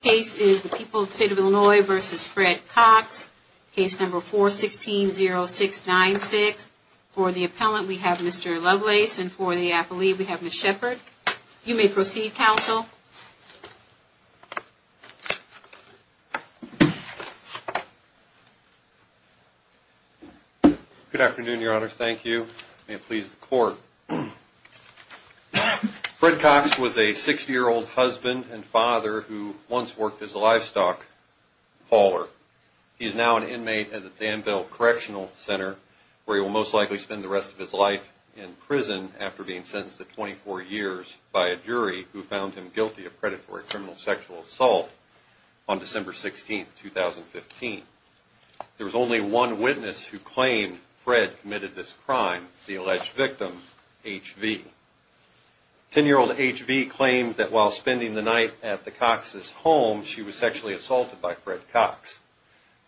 The case is the people of the state of Illinois v. Fred Cox, case number 416-0696. For the appellant we have Mr. Lovelace and for the appellee we have Ms. Shepard. You may proceed, counsel. Good afternoon, Your Honor. Thank you. May it please the Court. Fred Cox was a 60-year-old husband and father who once worked as a livestock hauler. He is now an inmate at the Danville Correctional Center where he will most likely spend the rest of his life in prison after being sentenced to 24 years by a jury who found him guilty of predatory criminal sexual assault on December 16, 2015. There was only one witness who claimed Fred committed this crime, the alleged victim, H.V. Ten-year-old H.V. claimed that while spending the night at the Cox's home, she was sexually assaulted by Fred Cox.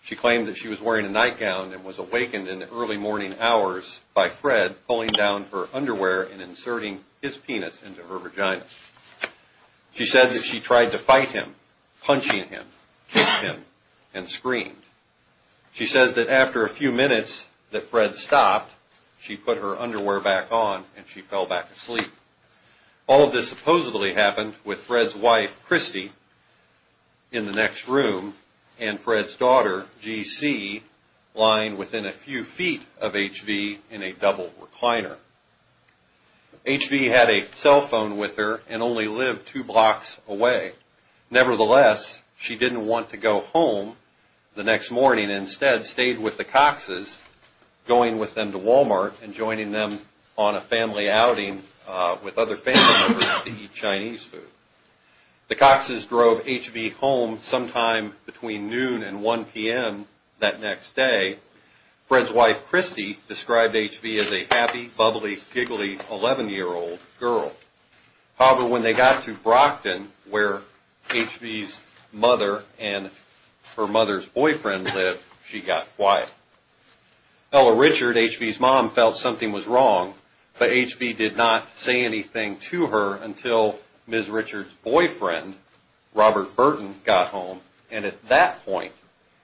She claimed that she was wearing a nightgown and was awakened in the early morning hours by Fred pulling down her underwear and inserting his penis into her vagina. She said that she tried to fight him, punching him, kicked him, and screamed. She says that after a few minutes that Fred stopped, she put her underwear back on and she fell back asleep. All of this supposedly happened with Fred's wife, Christy, in the next room and Fred's daughter, G.C., lying within a few feet of H.V. in a double recliner. H.V. had a cell phone with her and only lived two blocks away. Nevertheless, she didn't want to go home the next morning and instead stayed with the Cox's, going with them to Walmart and joining them on a family outing with other family members to eat Chinese food. The Cox's drove H.V. home sometime between noon and 1 p.m. that next day. Fred's wife, Christy, described H.V. as a happy, bubbly, giggly 11-year-old girl. However, when they got to Brockton, where H.V.'s mother and her mother's boyfriend lived, she got quiet. Ella Richard, H.V.'s mom, felt something was wrong, but H.V. did not say anything to her until Ms. Richard's boyfriend, Robert Burton, got home and at that point,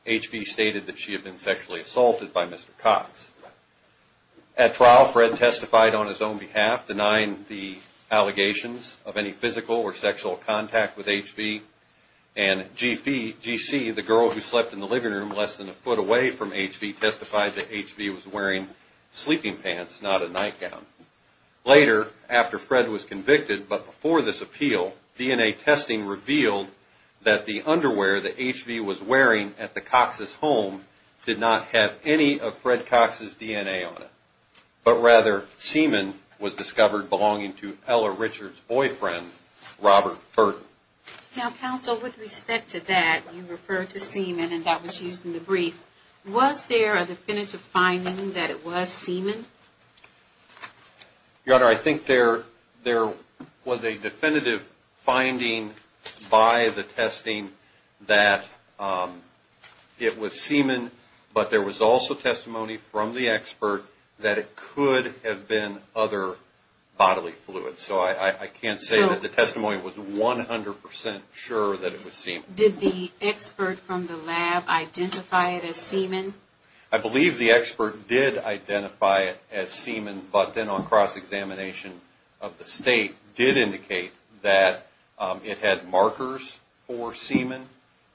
H.V. stated that she had been sexually assaulted by Mr. Cox. At trial, Fred testified on his own behalf, denying the allegations of any physical or sexual contact with H.V. and G.C., the girl who slept in the living room less than a foot away from H.V., testified that H.V. was wearing sleeping pants, not a nightgown. Later, after Fred was convicted, but before this appeal, DNA testing revealed that the underwear that H.V. was wearing at the Cox's home did not have any of Fred Cox's DNA on it, but rather, semen was discovered belonging to Ella Richard's boyfriend, Robert Burton. Now, counsel, with respect to that, you referred to semen and that was used in the brief. Was there a definitive finding that it was semen? Your Honor, I think there was a definitive finding by the testing that it was semen, but there was also testimony from the expert that it could have been other bodily fluids, so I can't say that the testimony was 100% sure that it was semen. Did the expert from the lab identify it as semen? I believe the expert did identify it as semen, but then on cross-examination of the state, did indicate that it had markers for semen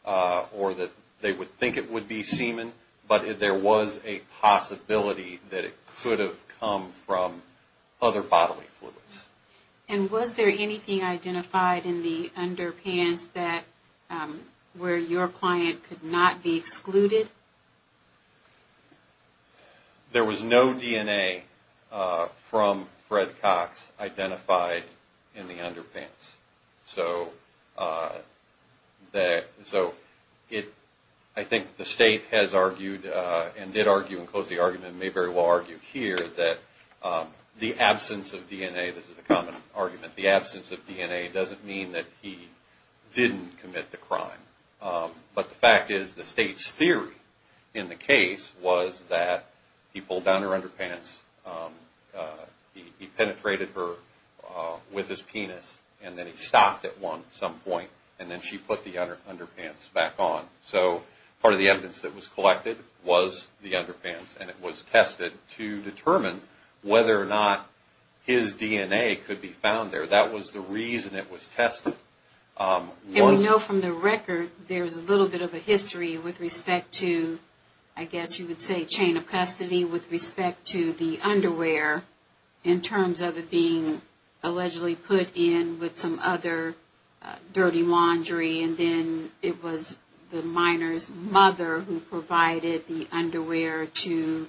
or that they would think it would be semen, but there was a possibility that it could have come from other bodily fluids. And was there anything identified in the underpants where your client could not be excluded? There was no DNA from Fred Cox identified in the underpants. So, I think the state has argued and did argue and closed the argument and may very well argue here that the absence of DNA, this is a common argument, the absence of DNA doesn't mean that he didn't commit the crime. But the fact is the state's theory in the case was that he pulled down her underpants, he penetrated her with his penis and then he stopped at some point and then she put the underpants back on. So, part of the evidence that was collected was the underpants and it was tested to determine whether or not his DNA could be found there. That was the reason it was tested. And we know from the record there's a little bit of a history with respect to, I guess you would say, chain of custody with respect to the underwear in terms of it being allegedly put in with some other dirty laundry and then it was the minor's mother who provided the underwear to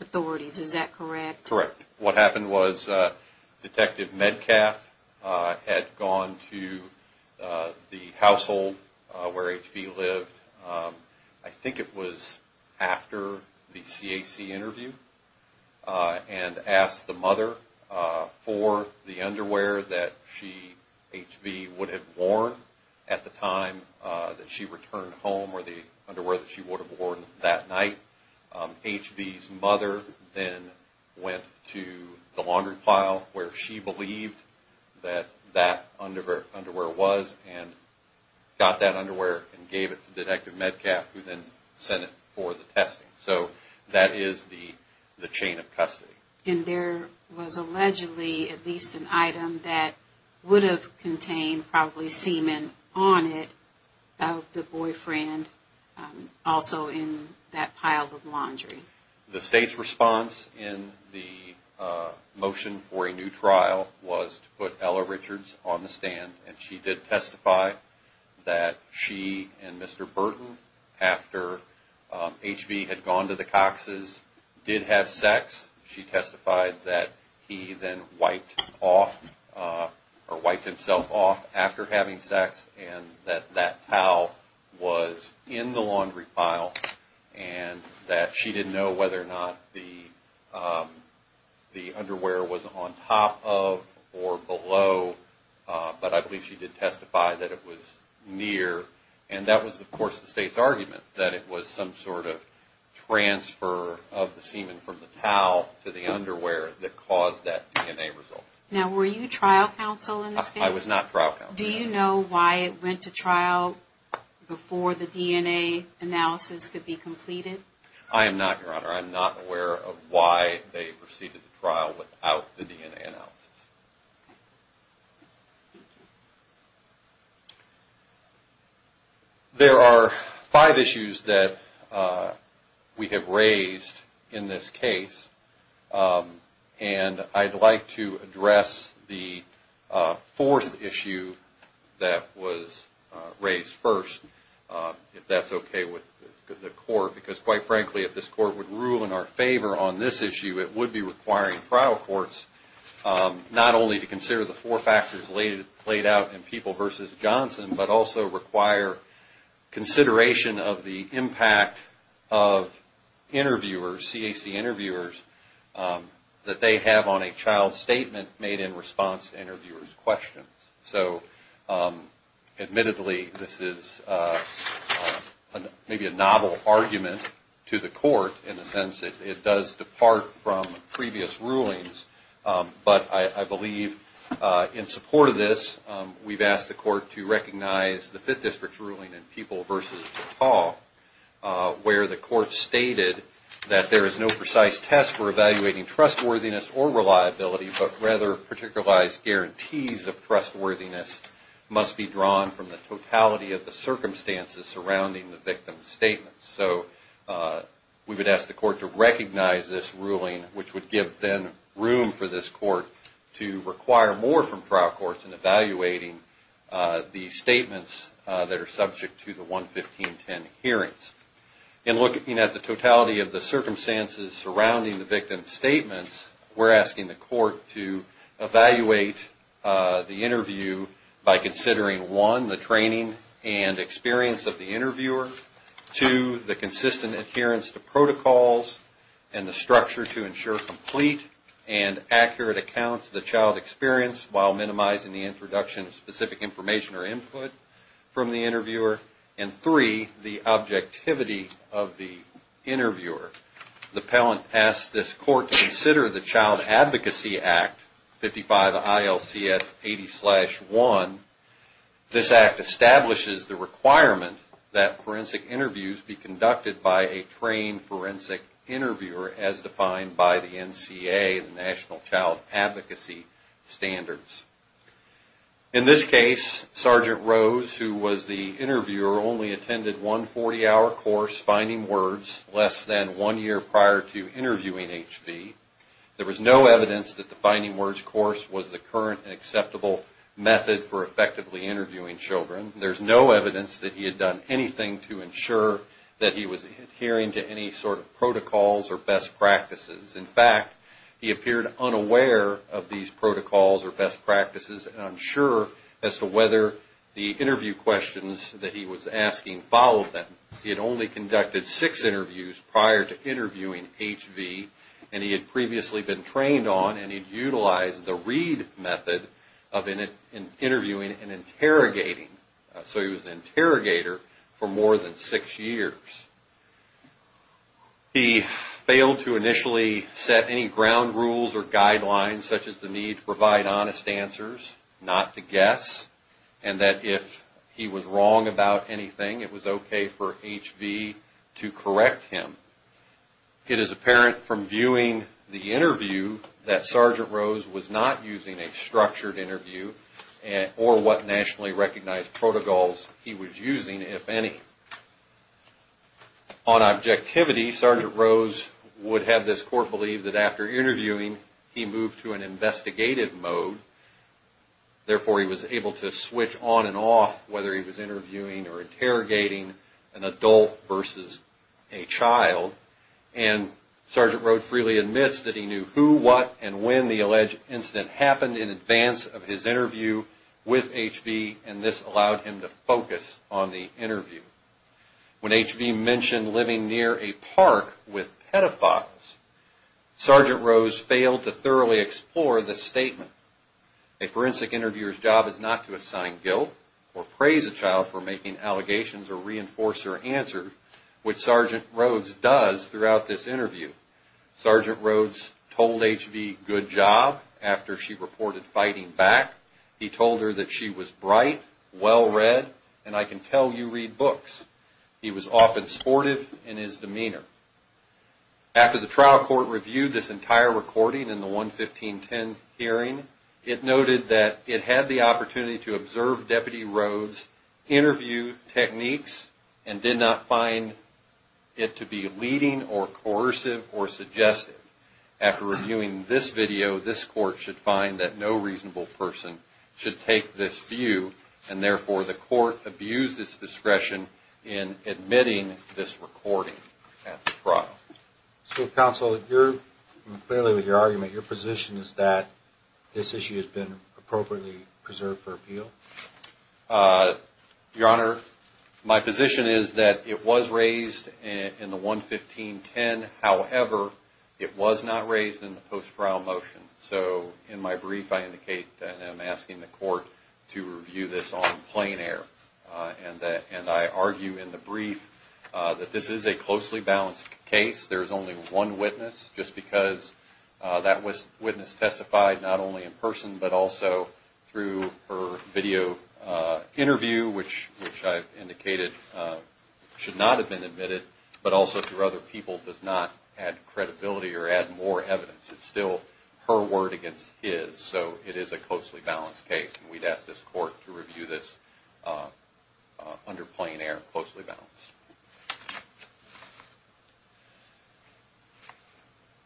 authorities, is that correct? Correct. What happened was Detective Metcalf had gone to the household where H.V. lived, I think it was after the CAC interview and asked the mother for the underwear that H.V. would have worn at the time that she returned home or the underwear that she would have worn that night. H.V.'s mother then went to the laundry pile where she believed that that underwear was and got that underwear and gave it to Detective Metcalf who then sent it for the testing. So, that is the chain of custody. And there was allegedly at least an item that would have contained probably semen on it of the boyfriend also in that pile of laundry. The state's response in the motion for a new trial was to put Ella Richards on the stand and she did testify that she and Mr. Burton, after H.V. had gone to the Cox's, did have sex. She testified that he then wiped off or wiped himself off after having sex and that that towel was in the laundry pile and that she didn't know whether or not the underwear was on top of or below, but I believe she did testify that it was near. And that was, of course, the state's argument that it was some sort of transfer of the semen from the towel to the underwear that caused that DNA result. Now, were you trial counsel in this case? I was not trial counsel. Do you know why it went to trial before the DNA analysis could be completed? I am not, Your Honor. I am not aware of why they proceeded the trial without the DNA analysis. There are five issues that we have raised in this case and I'd like to address the fourth issue that was raised first, if that's okay with the Court, because, quite frankly, if this Court would rule in our favor on this issue, it would be requiring trial courts not only to consider the four factors laid out in People v. Johnson, but also require consideration of the impact of interviewers, CAC interviewers, that they have on a child's statement made in response to interviewer's questions. So, admittedly, this is maybe a novel argument to the Court in the sense that it does depart from previous rulings, but I believe in support of this, we've asked the Court to recognize the Fifth District's ruling in People v. DeTalle, where the Court stated that there is no precise test for evaluating trustworthiness or reliability, but rather, particularized guarantees of trustworthiness must be drawn from the totality of the circumstances surrounding the victim's statements. So, we would ask the Court to recognize this ruling, which would give, then, room for this Court to require more from trial courts in evaluating the statements that are subject to the 11510 hearings. In looking at the totality of the circumstances surrounding the victim's statements, we're asking the Court to evaluate the interview by considering, one, the training and experience of the interviewer, two, the consistent adherence to protocols and the structure to ensure complete and accurate accounts of the child's experience while minimizing the introduction of specific information or input from the interviewer, and three, the objectivity of the interviewer. The appellant asks this Court to consider the Child Advocacy Act, 55 ILCS 80-1. This act establishes the requirement that forensic interviews be conducted by a trained forensic interviewer as defined by the NCA, the National Child Advocacy Standards. In this case, Sergeant Rose, who was the interviewer, only attended one 40-hour course, Finding Words, less than one year prior to interviewing H.V. There was no evidence that the Finding Words course was the current and acceptable method for effectively interviewing children. There's no evidence that he had done anything to ensure that he was adhering to any sort of protocols or best practices. In fact, he appeared unaware of these protocols or best practices, and unsure as to whether the interview questions that he was asking followed them. He had only conducted six interviews prior to interviewing H.V., and he had previously been trained on and he'd utilized the read method of interviewing and interrogating. So he was an interrogator for more than six years. He failed to initially set any ground rules or guidelines, such as the need to provide honest answers, not to guess, and that if he was wrong about anything, it was okay for H.V. to correct him. It is apparent from viewing the interview that Sergeant Rose was not using a structured interview or what nationally recognized protocols he was using, if any. On objectivity, Sergeant Rose would have this court believe that after interviewing, he moved to an investigative mode. Therefore, he was able to switch on and off whether he was interviewing or interrogating an adult versus a child. And Sergeant Rose freely admits that he knew who, what, and when the alleged incident happened in advance of his interview with H.V., and this allowed him to focus on the interview. When H.V. mentioned living near a park with pedophiles, Sergeant Rose failed to thoroughly explore the statement. A forensic interviewer's job is not to assign guilt or praise a child for making allegations or reinforce their answer, which Sergeant Rose does throughout this interview. Sergeant Rose told H.V. good job after she reported fighting back. He told her that she was bright, well-read, and I can tell you read books. He was often sportive in his demeanor. After the trial court reviewed this entire recording in the 11510 hearing, it noted that it had the opportunity to observe Deputy Rose's interview techniques and did not find it to be leading or coercive or suggestive. After reviewing this video, this court should find that no reasonable person should take this view, and therefore the court abused its discretion in admitting this recording at the trial. So Counsel, clearly with your argument, your position is that this issue has been appropriately preserved for appeal? Your Honor, my position is that it was raised in the 11510. However, it was not raised in the post-trial motion. So in my brief, I indicate that I'm asking the court to review this on plain air. And I argue in the brief that this is a closely balanced case. There is only one witness, just because that witness testified not only in person, but also through her video interview, which I indicated should not have been admitted, but also through other people does not add credibility or add more evidence. It's still her word against his. So it is a closely balanced case, and we'd ask this court to review this under plain air, closely balanced.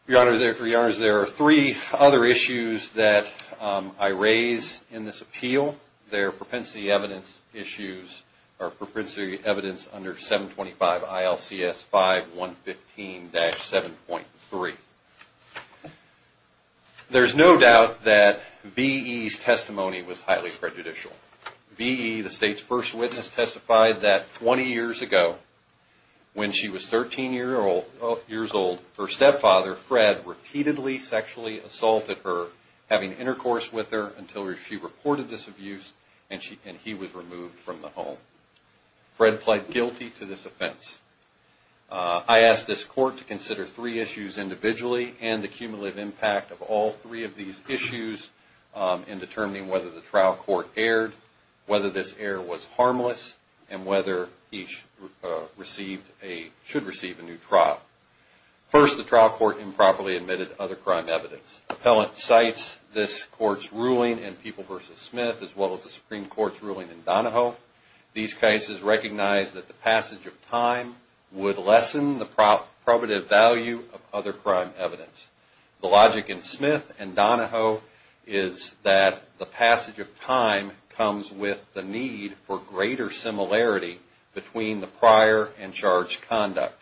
Your Honor, there are three other issues that I raise in this appeal. They are propensity evidence issues, or propensity evidence under 725 ILCS 5115-7.3. There's no doubt that V.E.'s testimony was highly prejudicial. V.E., the State's first witness, testified that 20 years ago, when she was 13 years old, her stepfather, Fred, repeatedly sexually assaulted her, having intercourse with her, until she reported this abuse and he was removed from the home. Fred pled guilty to this offense. I ask this court to consider three issues individually and the cumulative impact of all three of these issues in determining whether the trial court erred, whether this error was harmless, and whether he should receive a new trial. First, the trial court improperly admitted other crime evidence. Appellant cites this court's ruling in People v. Smith as well as the Supreme Court's ruling in Donahoe. These cases recognize that the passage of time would lessen the probative value of other crime evidence. The logic in Smith and Donahoe is that the passage of time comes with the need for greater similarity between the prior and charged conduct.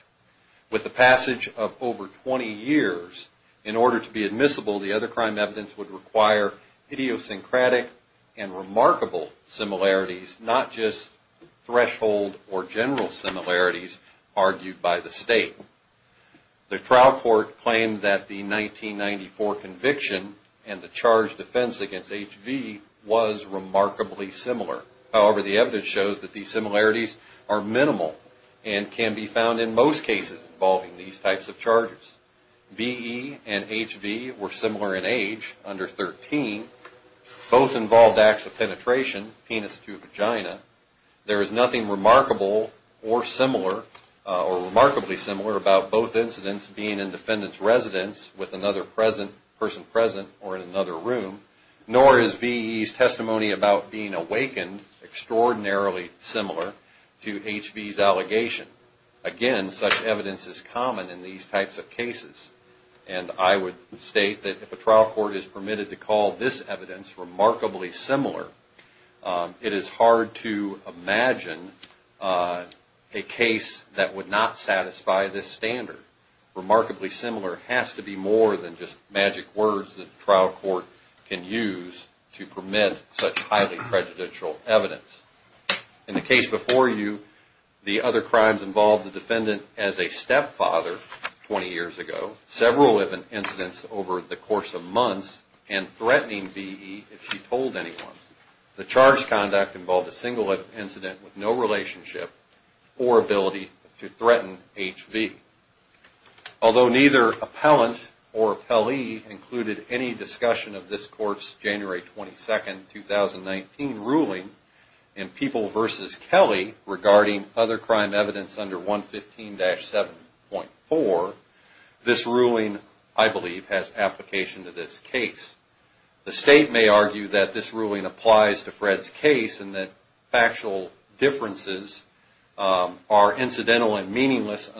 With the passage of over 20 years, in order to be admissible, the other crime evidence would require idiosyncratic and remarkable similarities, not just threshold or general similarities argued by the State. The trial court claimed that the 1994 conviction and the charged defense against H.V. was remarkably similar. However, the evidence shows that these similarities are minimal and can be found in most cases involving these types of charges. V.E. and H.V. were similar in age, under 13. Both involved acts of penetration, penis to vagina. There is nothing remarkable or remarkably similar about both incidents being in defendant's residence with another person present or in another room. Nor is V.E.'s testimony about being awakened extraordinarily similar to H.V.'s allegation. Again, such evidence is common in these types of cases. I would state that if a trial court is permitted to call this evidence remarkably similar, it is hard to imagine a case that would not satisfy this standard. Remarkably similar has to be more than just magic words that a trial court can use to permit such highly prejudicial evidence. In the case before you, the other crimes involved the defendant as a stepfather 20 years ago, several incidents over the course of months, and threatening V.E. if she told anyone. The charged conduct involved a single incident with no relationship or ability to threaten H.V. Although neither appellant or appellee included any discussion of this court's January 22, 2019, ruling in People v. Kelly regarding other crime evidence under 115-7.4, this ruling, I believe, has application to this case. The state may argue that this ruling applies to Fred's case and that factual differences are incidental and meaningless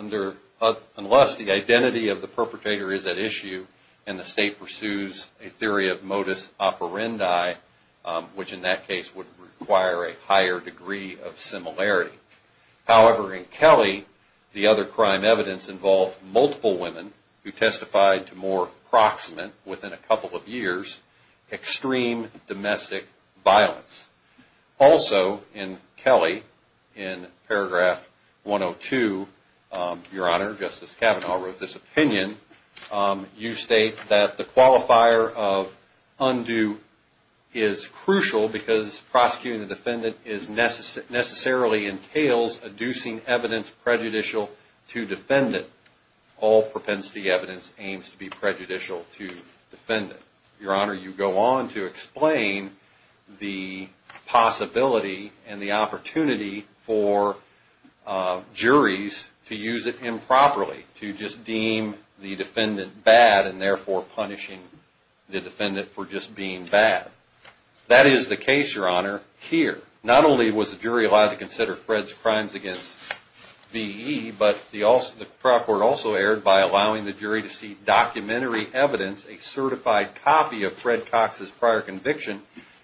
unless the identity of the perpetrator is at issue and the state pursues a theory of modus operandi, which in that case would require a higher degree of similarity. However, in Kelly, the other crime evidence involved multiple women who testified to more approximate, within a couple of years, extreme domestic violence. Also in Kelly, in paragraph 102, Your Honor, Justice Kavanaugh wrote this opinion. You state that the qualifier of undue is crucial because prosecuting the defendant necessarily entails adducing evidence prejudicial to defendant. All propensity evidence aims to be prejudicial to defendant. Your Honor, you go on to explain the possibility and the opportunity for juries to use it improperly, to just deem the defendant bad and therefore punishing the defendant for just being bad. That is the case, Your Honor, here. Not only was the jury allowed to consider Fred's crimes against V.E., but the trial court also erred by allowing the jury to see documentary evidence, a certified copy of Fred Cox's prior conviction,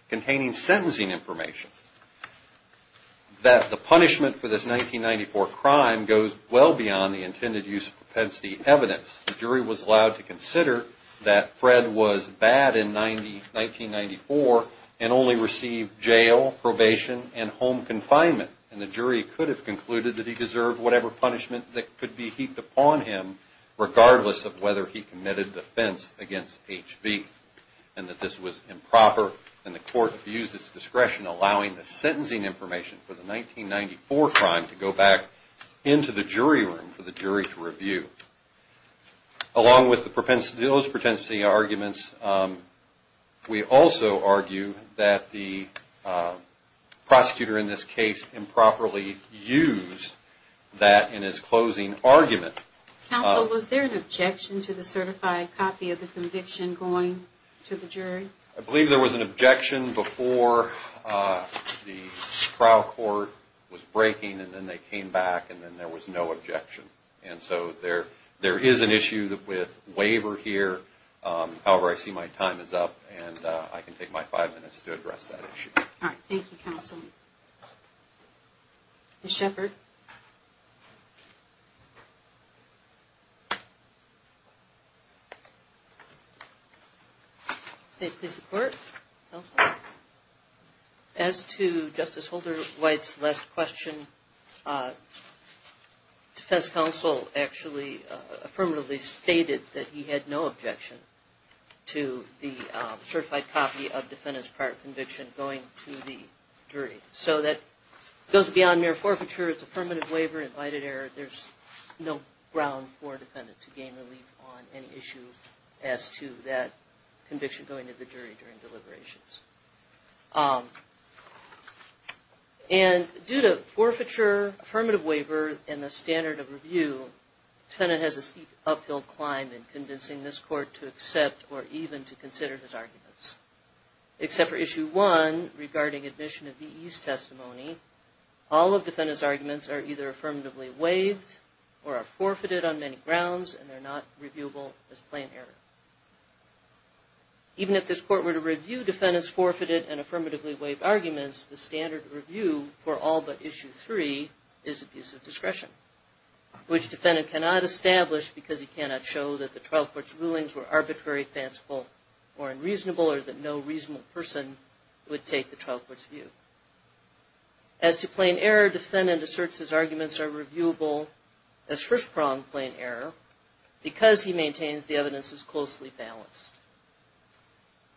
containing sentencing information. That the punishment for this 1994 crime goes well beyond the intended use of propensity evidence. The jury was allowed to consider that Fred was bad in 1994 and only received jail, probation, and home confinement. And the jury could have concluded that he deserved whatever punishment that could be heaped upon him, regardless of whether he committed offense against H.V. and that this was improper. And the court abused its discretion allowing the sentencing information for the 1994 crime to go back into the jury room for the jury to review. Along with those propensity arguments, we also argue that the prosecutor in this case improperly used that in his closing argument. Counsel, was there an objection to the certified copy of the conviction going to the jury? I believe there was an objection before the trial court was breaking, and then they came back, and then there was no objection. And so there is an issue with waiver here. However, I see my time is up, and I can take my five minutes to address that issue. All right. Thank you, Counsel. Ms. Shepard? Thank you, Court. Counsel? As to Justice Holder White's last question, defense counsel actually affirmatively stated that he had no objection to the certified copy of defendant's prior conviction going to the jury. So that goes beyond mere forfeiture. It's a permanent waiver, invited error. There's no ground for a defendant to gain relief on any issue as to that conviction going to the jury during deliberations. And due to forfeiture, affirmative waiver, and the standard of review, defendant has a steep uphill climb in convincing this Court to accept or even to consider his arguments. Except for Issue 1 regarding admission of DE's testimony, all of defendant's arguments are either affirmatively waived or are forfeited on many grounds, and they're not reviewable as plain error. Even if this Court were to review defendant's forfeited and affirmatively waived arguments, the standard review for all but Issue 3 is abuse of discretion, which defendant cannot establish because he cannot show that the Twelfth Court's rulings were arbitrary, fanciful, or unreasonable, or that no reasonable person would take the Twelfth Court's view. As to plain error, defendant asserts his arguments are reviewable as first-prong plain error because he maintains the evidence is closely balanced.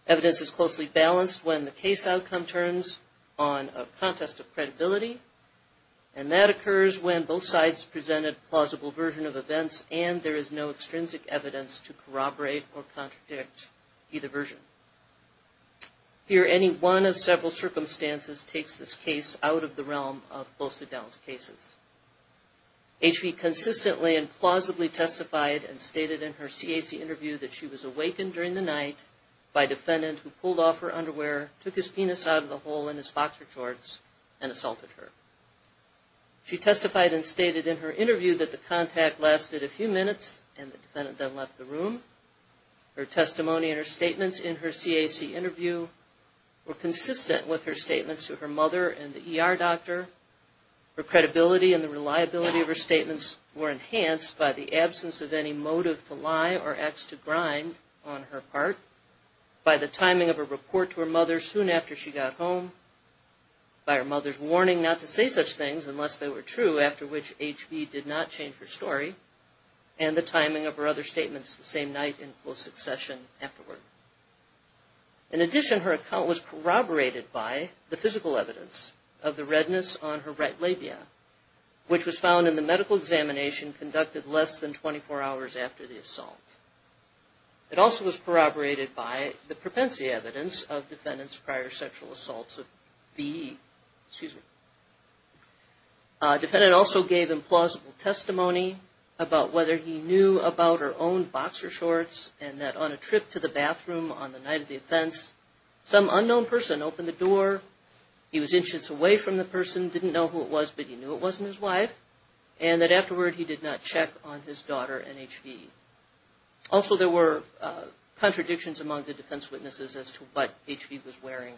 Evidence is closely balanced when the case outcome turns on a contest of credibility, and that occurs when both sides presented plausible version of events and there is no extrinsic evidence to corroborate or contradict either version. Here, any one of several circumstances takes this case out of the realm of closely balanced cases. H.V. consistently and plausibly testified and stated in her CAC interview that she was awakened during the night by a defendant who pulled off her underwear, took his penis out of the hole in his boxer shorts, and assaulted her. She testified and stated in her interview that the contact lasted a few minutes and the defendant then left the room. Her testimony and her statements in her CAC interview were consistent with her statements to her mother and the ER doctor. Her credibility and the reliability of her statements were enhanced by the absence of any motive to lie or acts to grind on her part, by the timing of her report to her mother soon after she got home, by her mother's warning not to say such things unless they were true, after which H.V. did not change her story, and the timing of her other statements the same night in close succession afterward. In addition, her account was corroborated by the physical evidence of the redness on her right labia, which was found in the medical examination conducted less than 24 hours after the assault. It also was corroborated by the propensity evidence of the defendant's prior sexual assaults of V.E. The defendant also gave implausible testimony about whether he knew about her own boxer shorts and that on a trip to the bathroom on the night of the offense, some unknown person opened the door. He was inches away from the person, didn't know who it was, but he knew it wasn't his wife, and that afterward he did not check on his daughter and H.V. Also, there were contradictions among the defense witnesses as to what H.V. was wearing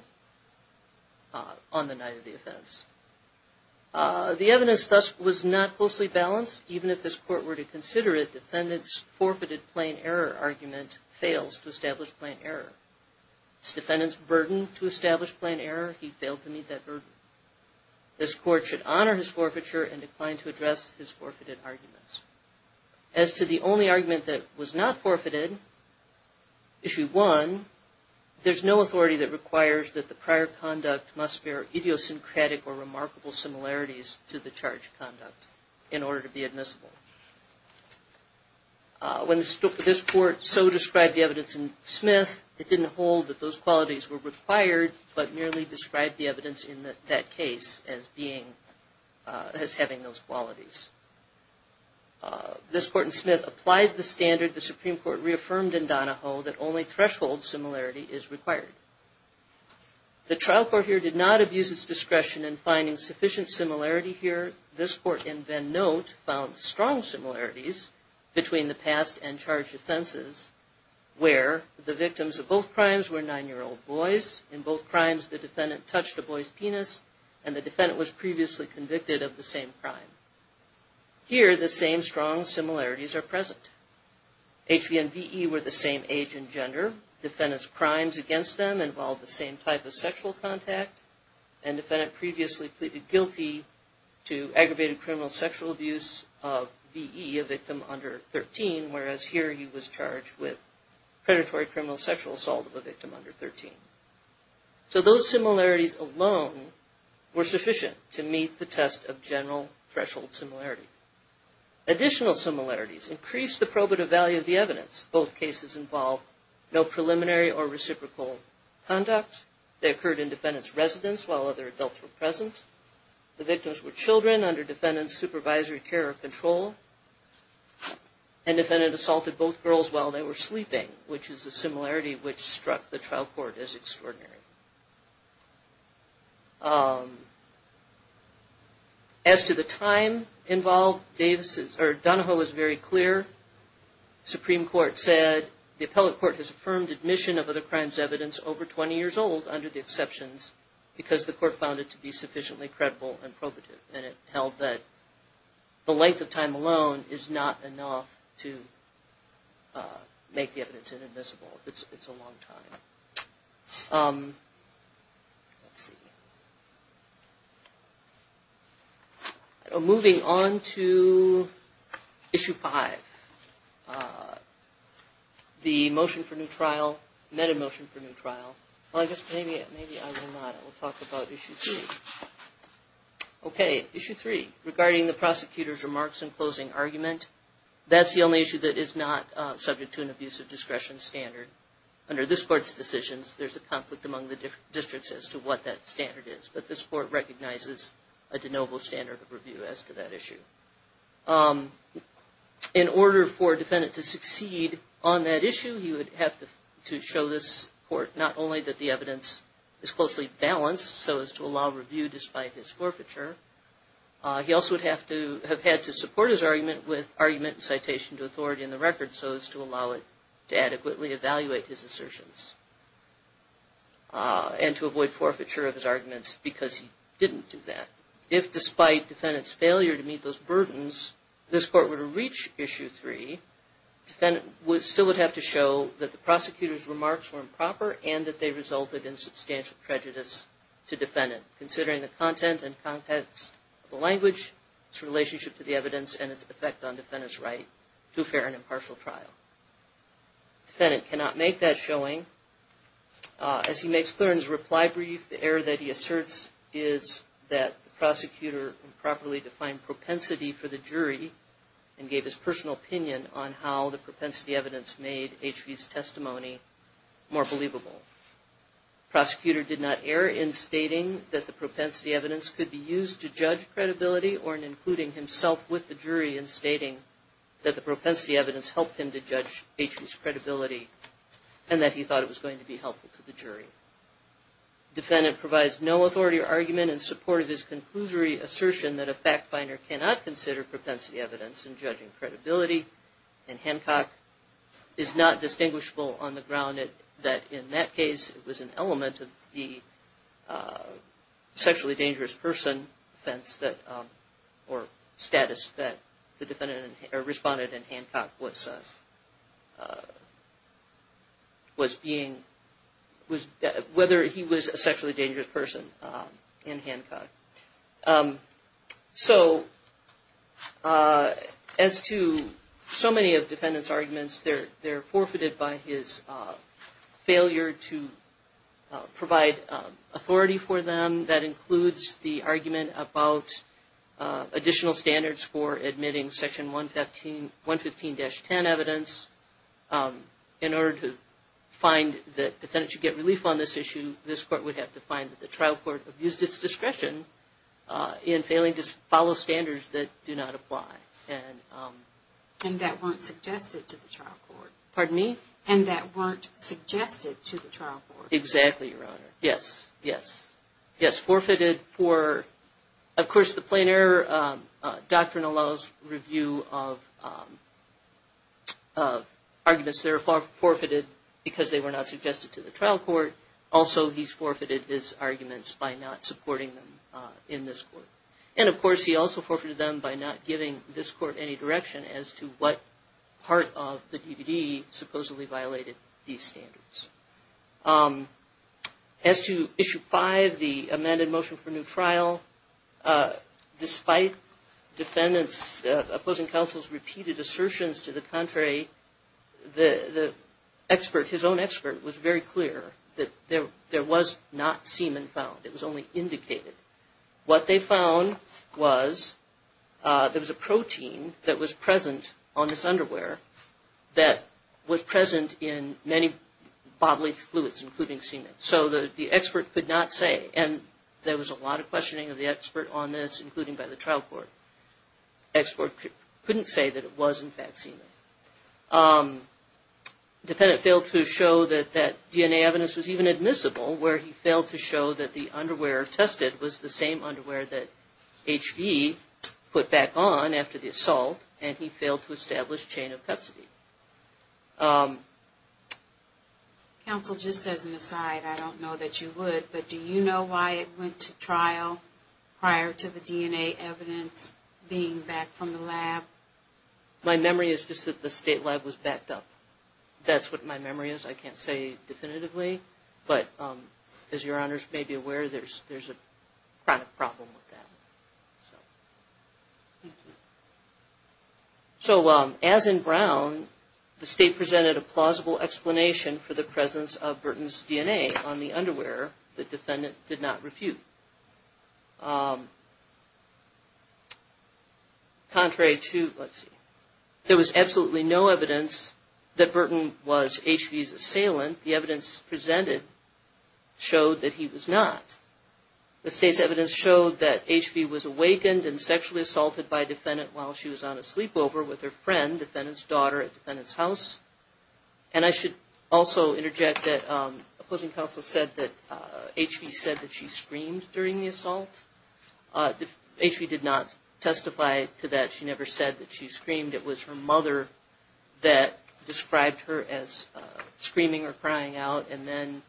on the night of the offense. The evidence thus was not closely balanced. Even if this Court were to consider it, the defendant's forfeited plain error argument fails to establish plain error. It's the defendant's burden to establish plain error. He failed to meet that burden. This Court should honor his forfeiture and decline to address his forfeited arguments. As to the only argument that was not forfeited, Issue 1, there's no authority that requires that the prior conduct must bear idiosyncratic or remarkable similarities to the charged conduct in order to be admissible. When this Court so described the evidence in Smith, it didn't hold that those qualities were required, but merely described the evidence in that case as having those qualities. This Court in Smith applied the standard the Supreme Court reaffirmed in Donahoe that only threshold similarity is required. The trial court here did not abuse its discretion in finding sufficient similarity here. This Court in Venn Note found strong similarities between the past and charged offenses where the victims of both crimes were nine-year-old boys. In both crimes, the defendant touched a boy's penis, and the defendant was previously convicted of the same crime. Here, the same strong similarities are present. HV and VE were the same age and gender. Defendant's crimes against them involved the same type of sexual contact, and defendant previously pleaded guilty to aggravated criminal sexual abuse of VE, a victim under 13, whereas here he was charged with predatory criminal sexual assault of a victim under 13. So those similarities alone were sufficient to meet the test of general threshold similarity. Additional similarities increased the probative value of the evidence. Both cases involved no preliminary or reciprocal conduct. They occurred in defendant's residence while other adults were present. The victims were children under defendant's supervisory care or control. And defendant assaulted both girls while they were sleeping, As to the time involved, Donahoe is very clear. Supreme Court said the appellate court has affirmed admission of other crimes' evidence over 20 years old under the exceptions because the court found it to be sufficiently credible and probative, and it held that the length of time alone is not enough to make the evidence inadmissible. It's a long time. Let's see. Moving on to Issue 5, the motion for new trial, meta-motion for new trial. Well, I guess maybe I will not. I will talk about Issue 3. Okay, Issue 3, regarding the prosecutor's remarks in closing argument, that's the only issue that is not subject to an abusive discretion standard. Under this court's decisions, there's a conflict among the districts as to what that standard is, but this court recognizes a de novo standard of review as to that issue. In order for a defendant to succeed on that issue, he would have to show this court not only that the evidence is closely balanced, so as to allow review despite his forfeiture, he also would have had to support his argument with argument and citation to authority in the record, and so as to allow it to adequately evaluate his assertions, and to avoid forfeiture of his arguments because he didn't do that. If, despite defendant's failure to meet those burdens, this court were to reach Issue 3, the defendant still would have to show that the prosecutor's remarks were improper and that they resulted in substantial prejudice to defendant, considering the content and context of the language, its relationship to the evidence, and its effect on defendant's right to a fair and impartial trial. The defendant cannot make that showing. As he makes clear in his reply brief, the error that he asserts is that the prosecutor improperly defined propensity for the jury and gave his personal opinion on how the propensity evidence made H.V.'s testimony more believable. The prosecutor did not err in stating that the propensity evidence could be used to judge credibility or in including himself with the jury in stating that the propensity evidence helped him to judge H.V.'s credibility and that he thought it was going to be helpful to the jury. Defendant provides no authority or argument in support of his conclusory assertion that a fact finder cannot consider propensity evidence in judging credibility, and Hancock is not distinguishable on the ground that in that case, it was an element of the sexually dangerous person defense that, or status that the defendant responded in Hancock was being, whether he was a sexually dangerous person in Hancock. So, as to so many of defendant's arguments, they're forfeited by his failure to provide authority for them. That includes the argument about additional standards for admitting Section 115-10 evidence. In order to find that defendants should get relief on this issue, this court would have to find that the trial court abused its discretion in failing to follow standards that do not apply. And that weren't suggested to the trial court. Pardon me? And that weren't suggested to the trial court. Exactly, Your Honor. Yes, yes. Yes, forfeited for, of course, the plain error doctrine allows review of arguments that are forfeited because they were not suggested to the trial court. Also, he's forfeited his arguments by not supporting them in this court. And, of course, he also forfeited them by not giving this court any direction as to what part of the DVD supposedly violated these standards. As to Issue 5, the amended motion for new trial, despite defendant's opposing counsel's repeated assertions to the contrary, the expert, his own expert, was very clear that there was not semen found. It was only indicated. What they found was there was a protein that was present on his underwear that was present in many bodily fluids, including semen. So the expert could not say. And there was a lot of questioning of the expert on this, including by the trial court. The expert couldn't say that it wasn't vaccine. The defendant failed to show that that DNA evidence was even admissible, where he failed to show that the underwear tested was the same underwear that H.V. put back on after the assault, and he failed to establish chain of custody. Counsel, just as an aside, I don't know that you would, but do you know why it went to trial prior to the DNA evidence being back from the lab? My memory is just that the state lab was backed up. That's what my memory is. I can't say definitively. But as your honors may be aware, there's a chronic problem with that. So as in Brown, the state presented a plausible explanation for the presence of Burton's DNA on the underwear the defendant did not refute. Contrary to, let's see, there was absolutely no evidence that Burton was H.V.'s assailant. The evidence presented showed that he was not. The state's evidence showed that H.V. was awakened and sexually assaulted by a defendant while she was on a sleepover with her friend, defendant's daughter, at defendant's house. And I should also interject that opposing counsel said that H.V. said that she screamed during the assault. H.V. did not testify to that. She never said that she screamed. It was her mother that described her as screaming or crying out, and then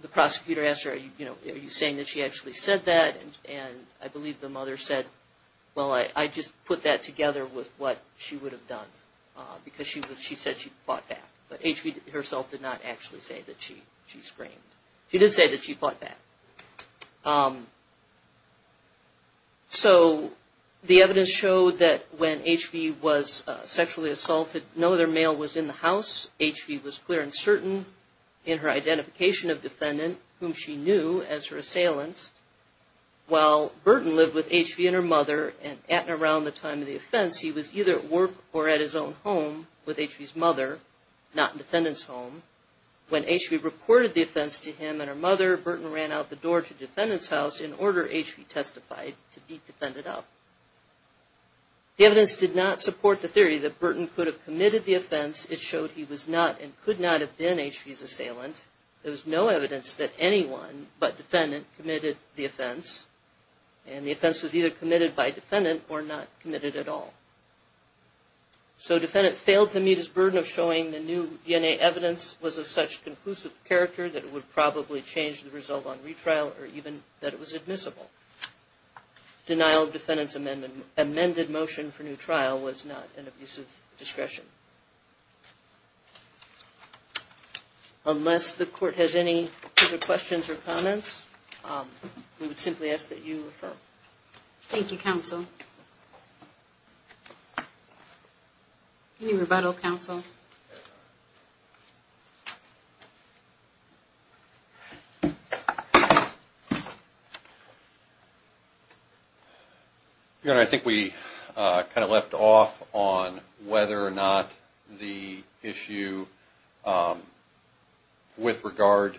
the prosecutor asked her, you know, are you saying that she actually said that? And I believe the mother said, well, I just put that together with what she would have done because she said she fought back. But H.V. herself did not actually say that she screamed. She did say that she fought back. So the evidence showed that when H.V. was sexually assaulted, no other male was in the house. H.V. was clear and certain in her identification of defendant, whom she knew as her assailant. While Burton lived with H.V. and her mother, and at and around the time of the offense, he was either at work or at his own home with H.V.'s mother, not in defendant's home. When H.V. reported the offense to him and her mother, Burton ran out the door to defendant's house in order, H.V. testified, to be defended up. The evidence did not support the theory that Burton could have committed the offense. It showed he was not and could not have been H.V.'s assailant. There was no evidence that anyone but defendant committed the offense. And the offense was either committed by defendant or not committed at all. So defendant failed to meet his burden of showing the new DNA evidence was of such conclusive character that it would probably change the result on retrial or even that it was admissible. Denial of defendant's amended motion for new trial was not an abuse of discretion. Unless the court has any further questions or comments, we would simply ask that you refer. Thank you, counsel. Any rebuttal, counsel? Your Honor, I think we kind of left off on whether or not the issue with regard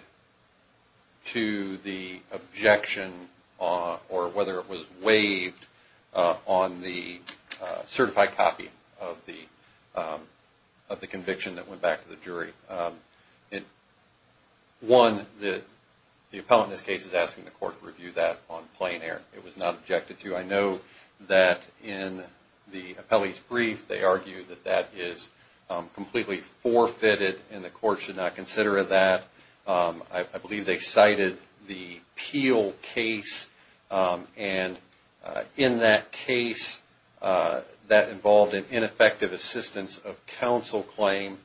to the objection or whether it was waived on the certified copy of the conviction that went back to the jury. One, the appellant in this case is asking the court to review that on plain air. It was not objected to. I know that in the appellee's brief, they argued that that is completely forfeited and the court should not consider that. I believe they cited the Peel case, and in that case, that involved an ineffective assistance of counsel claim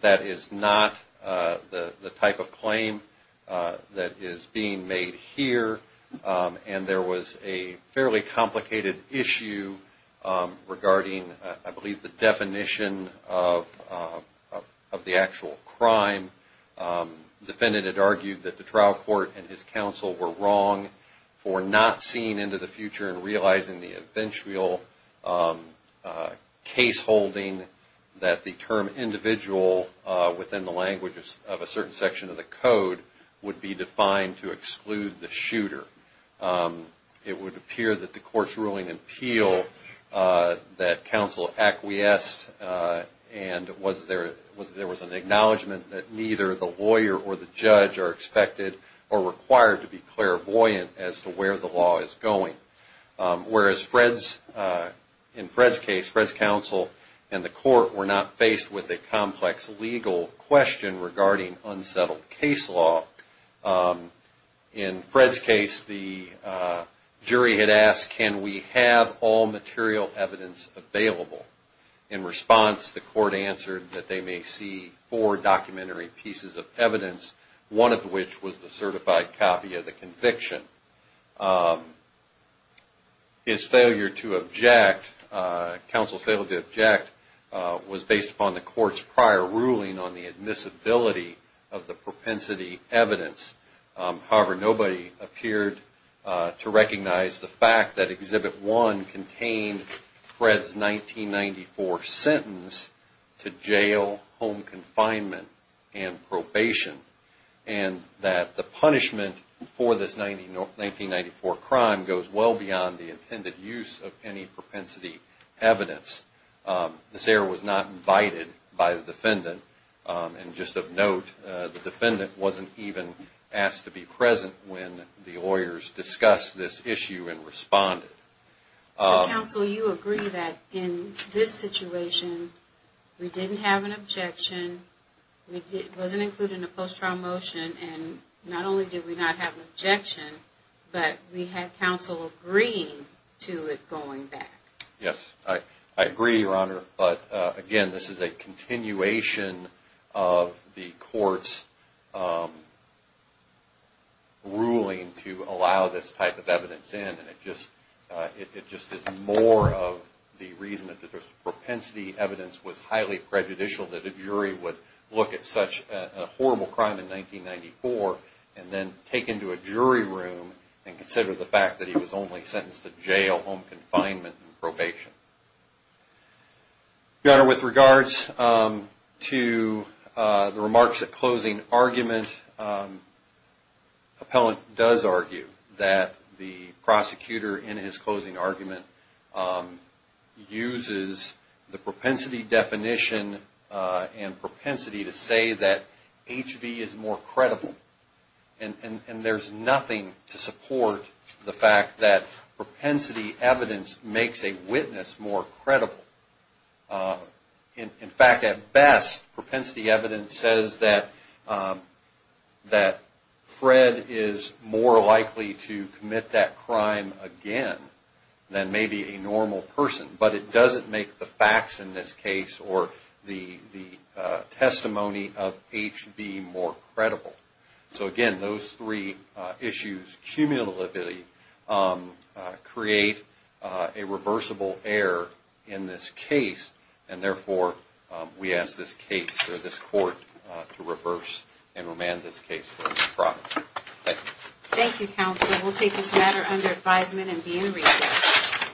that is not the type of claim that is being made here. And there was a fairly complicated issue regarding, I believe, the definition of the actual crime. The defendant had argued that the trial court and his counsel were wrong for not seeing into the future and realizing the eventual case holding that the term individual within the language of a certain section of the code would be defined to exclude the shooter. It would appear that the court's ruling in Peel that counsel acquiesced and there was an acknowledgement that neither the lawyer or the judge are expected or required to be clairvoyant as to where the law is going. Whereas in Fred's case, Fred's counsel and the court were not faced with a complex legal question regarding unsettled case law. In Fred's case, the jury had asked, can we have all material evidence available? In response, the court answered that they may see four documentary pieces of evidence, one of which was the certified copy of the conviction. His failure to object, counsel's failure to object was based upon the court's prior ruling on the admissibility of the propensity evidence. However, nobody appeared to recognize the fact that Exhibit 1 contained Fred's 1994 sentence to jail, home confinement, and probation. And that the punishment for this 1994 crime goes well beyond the intended use of any propensity evidence. This error was not invited by the defendant. And just of note, the defendant wasn't even asked to be present when the lawyers discussed this issue and responded. But counsel, you agree that in this situation, we didn't have an objection. It wasn't included in the post-trial motion. And not only did we not have an objection, but we had counsel agreeing to it going back. Yes, I agree, Your Honor. But again, this is a continuation of the court's ruling to allow this type of evidence in. And it just is more of the reason that the propensity evidence was highly prejudicial that a jury would look at such a horrible crime in 1994 and then take into a jury room and consider the fact that he was only sentenced to jail, home confinement, and probation. Your Honor, with regards to the remarks at closing argument, the defendant does argue that the prosecutor in his closing argument uses the propensity definition and propensity to say that H.V. is more credible. And there's nothing to support the fact that propensity evidence makes a witness more credible. In fact, at best, propensity evidence says that Fred is more likely to commit that crime again than maybe a normal person. But it doesn't make the facts in this case or the testimony of H.V. more credible. So again, those three issues cumulatively create a reversible error in this case. And therefore, we ask this case or this court to reverse and remand this case for improper. Thank you.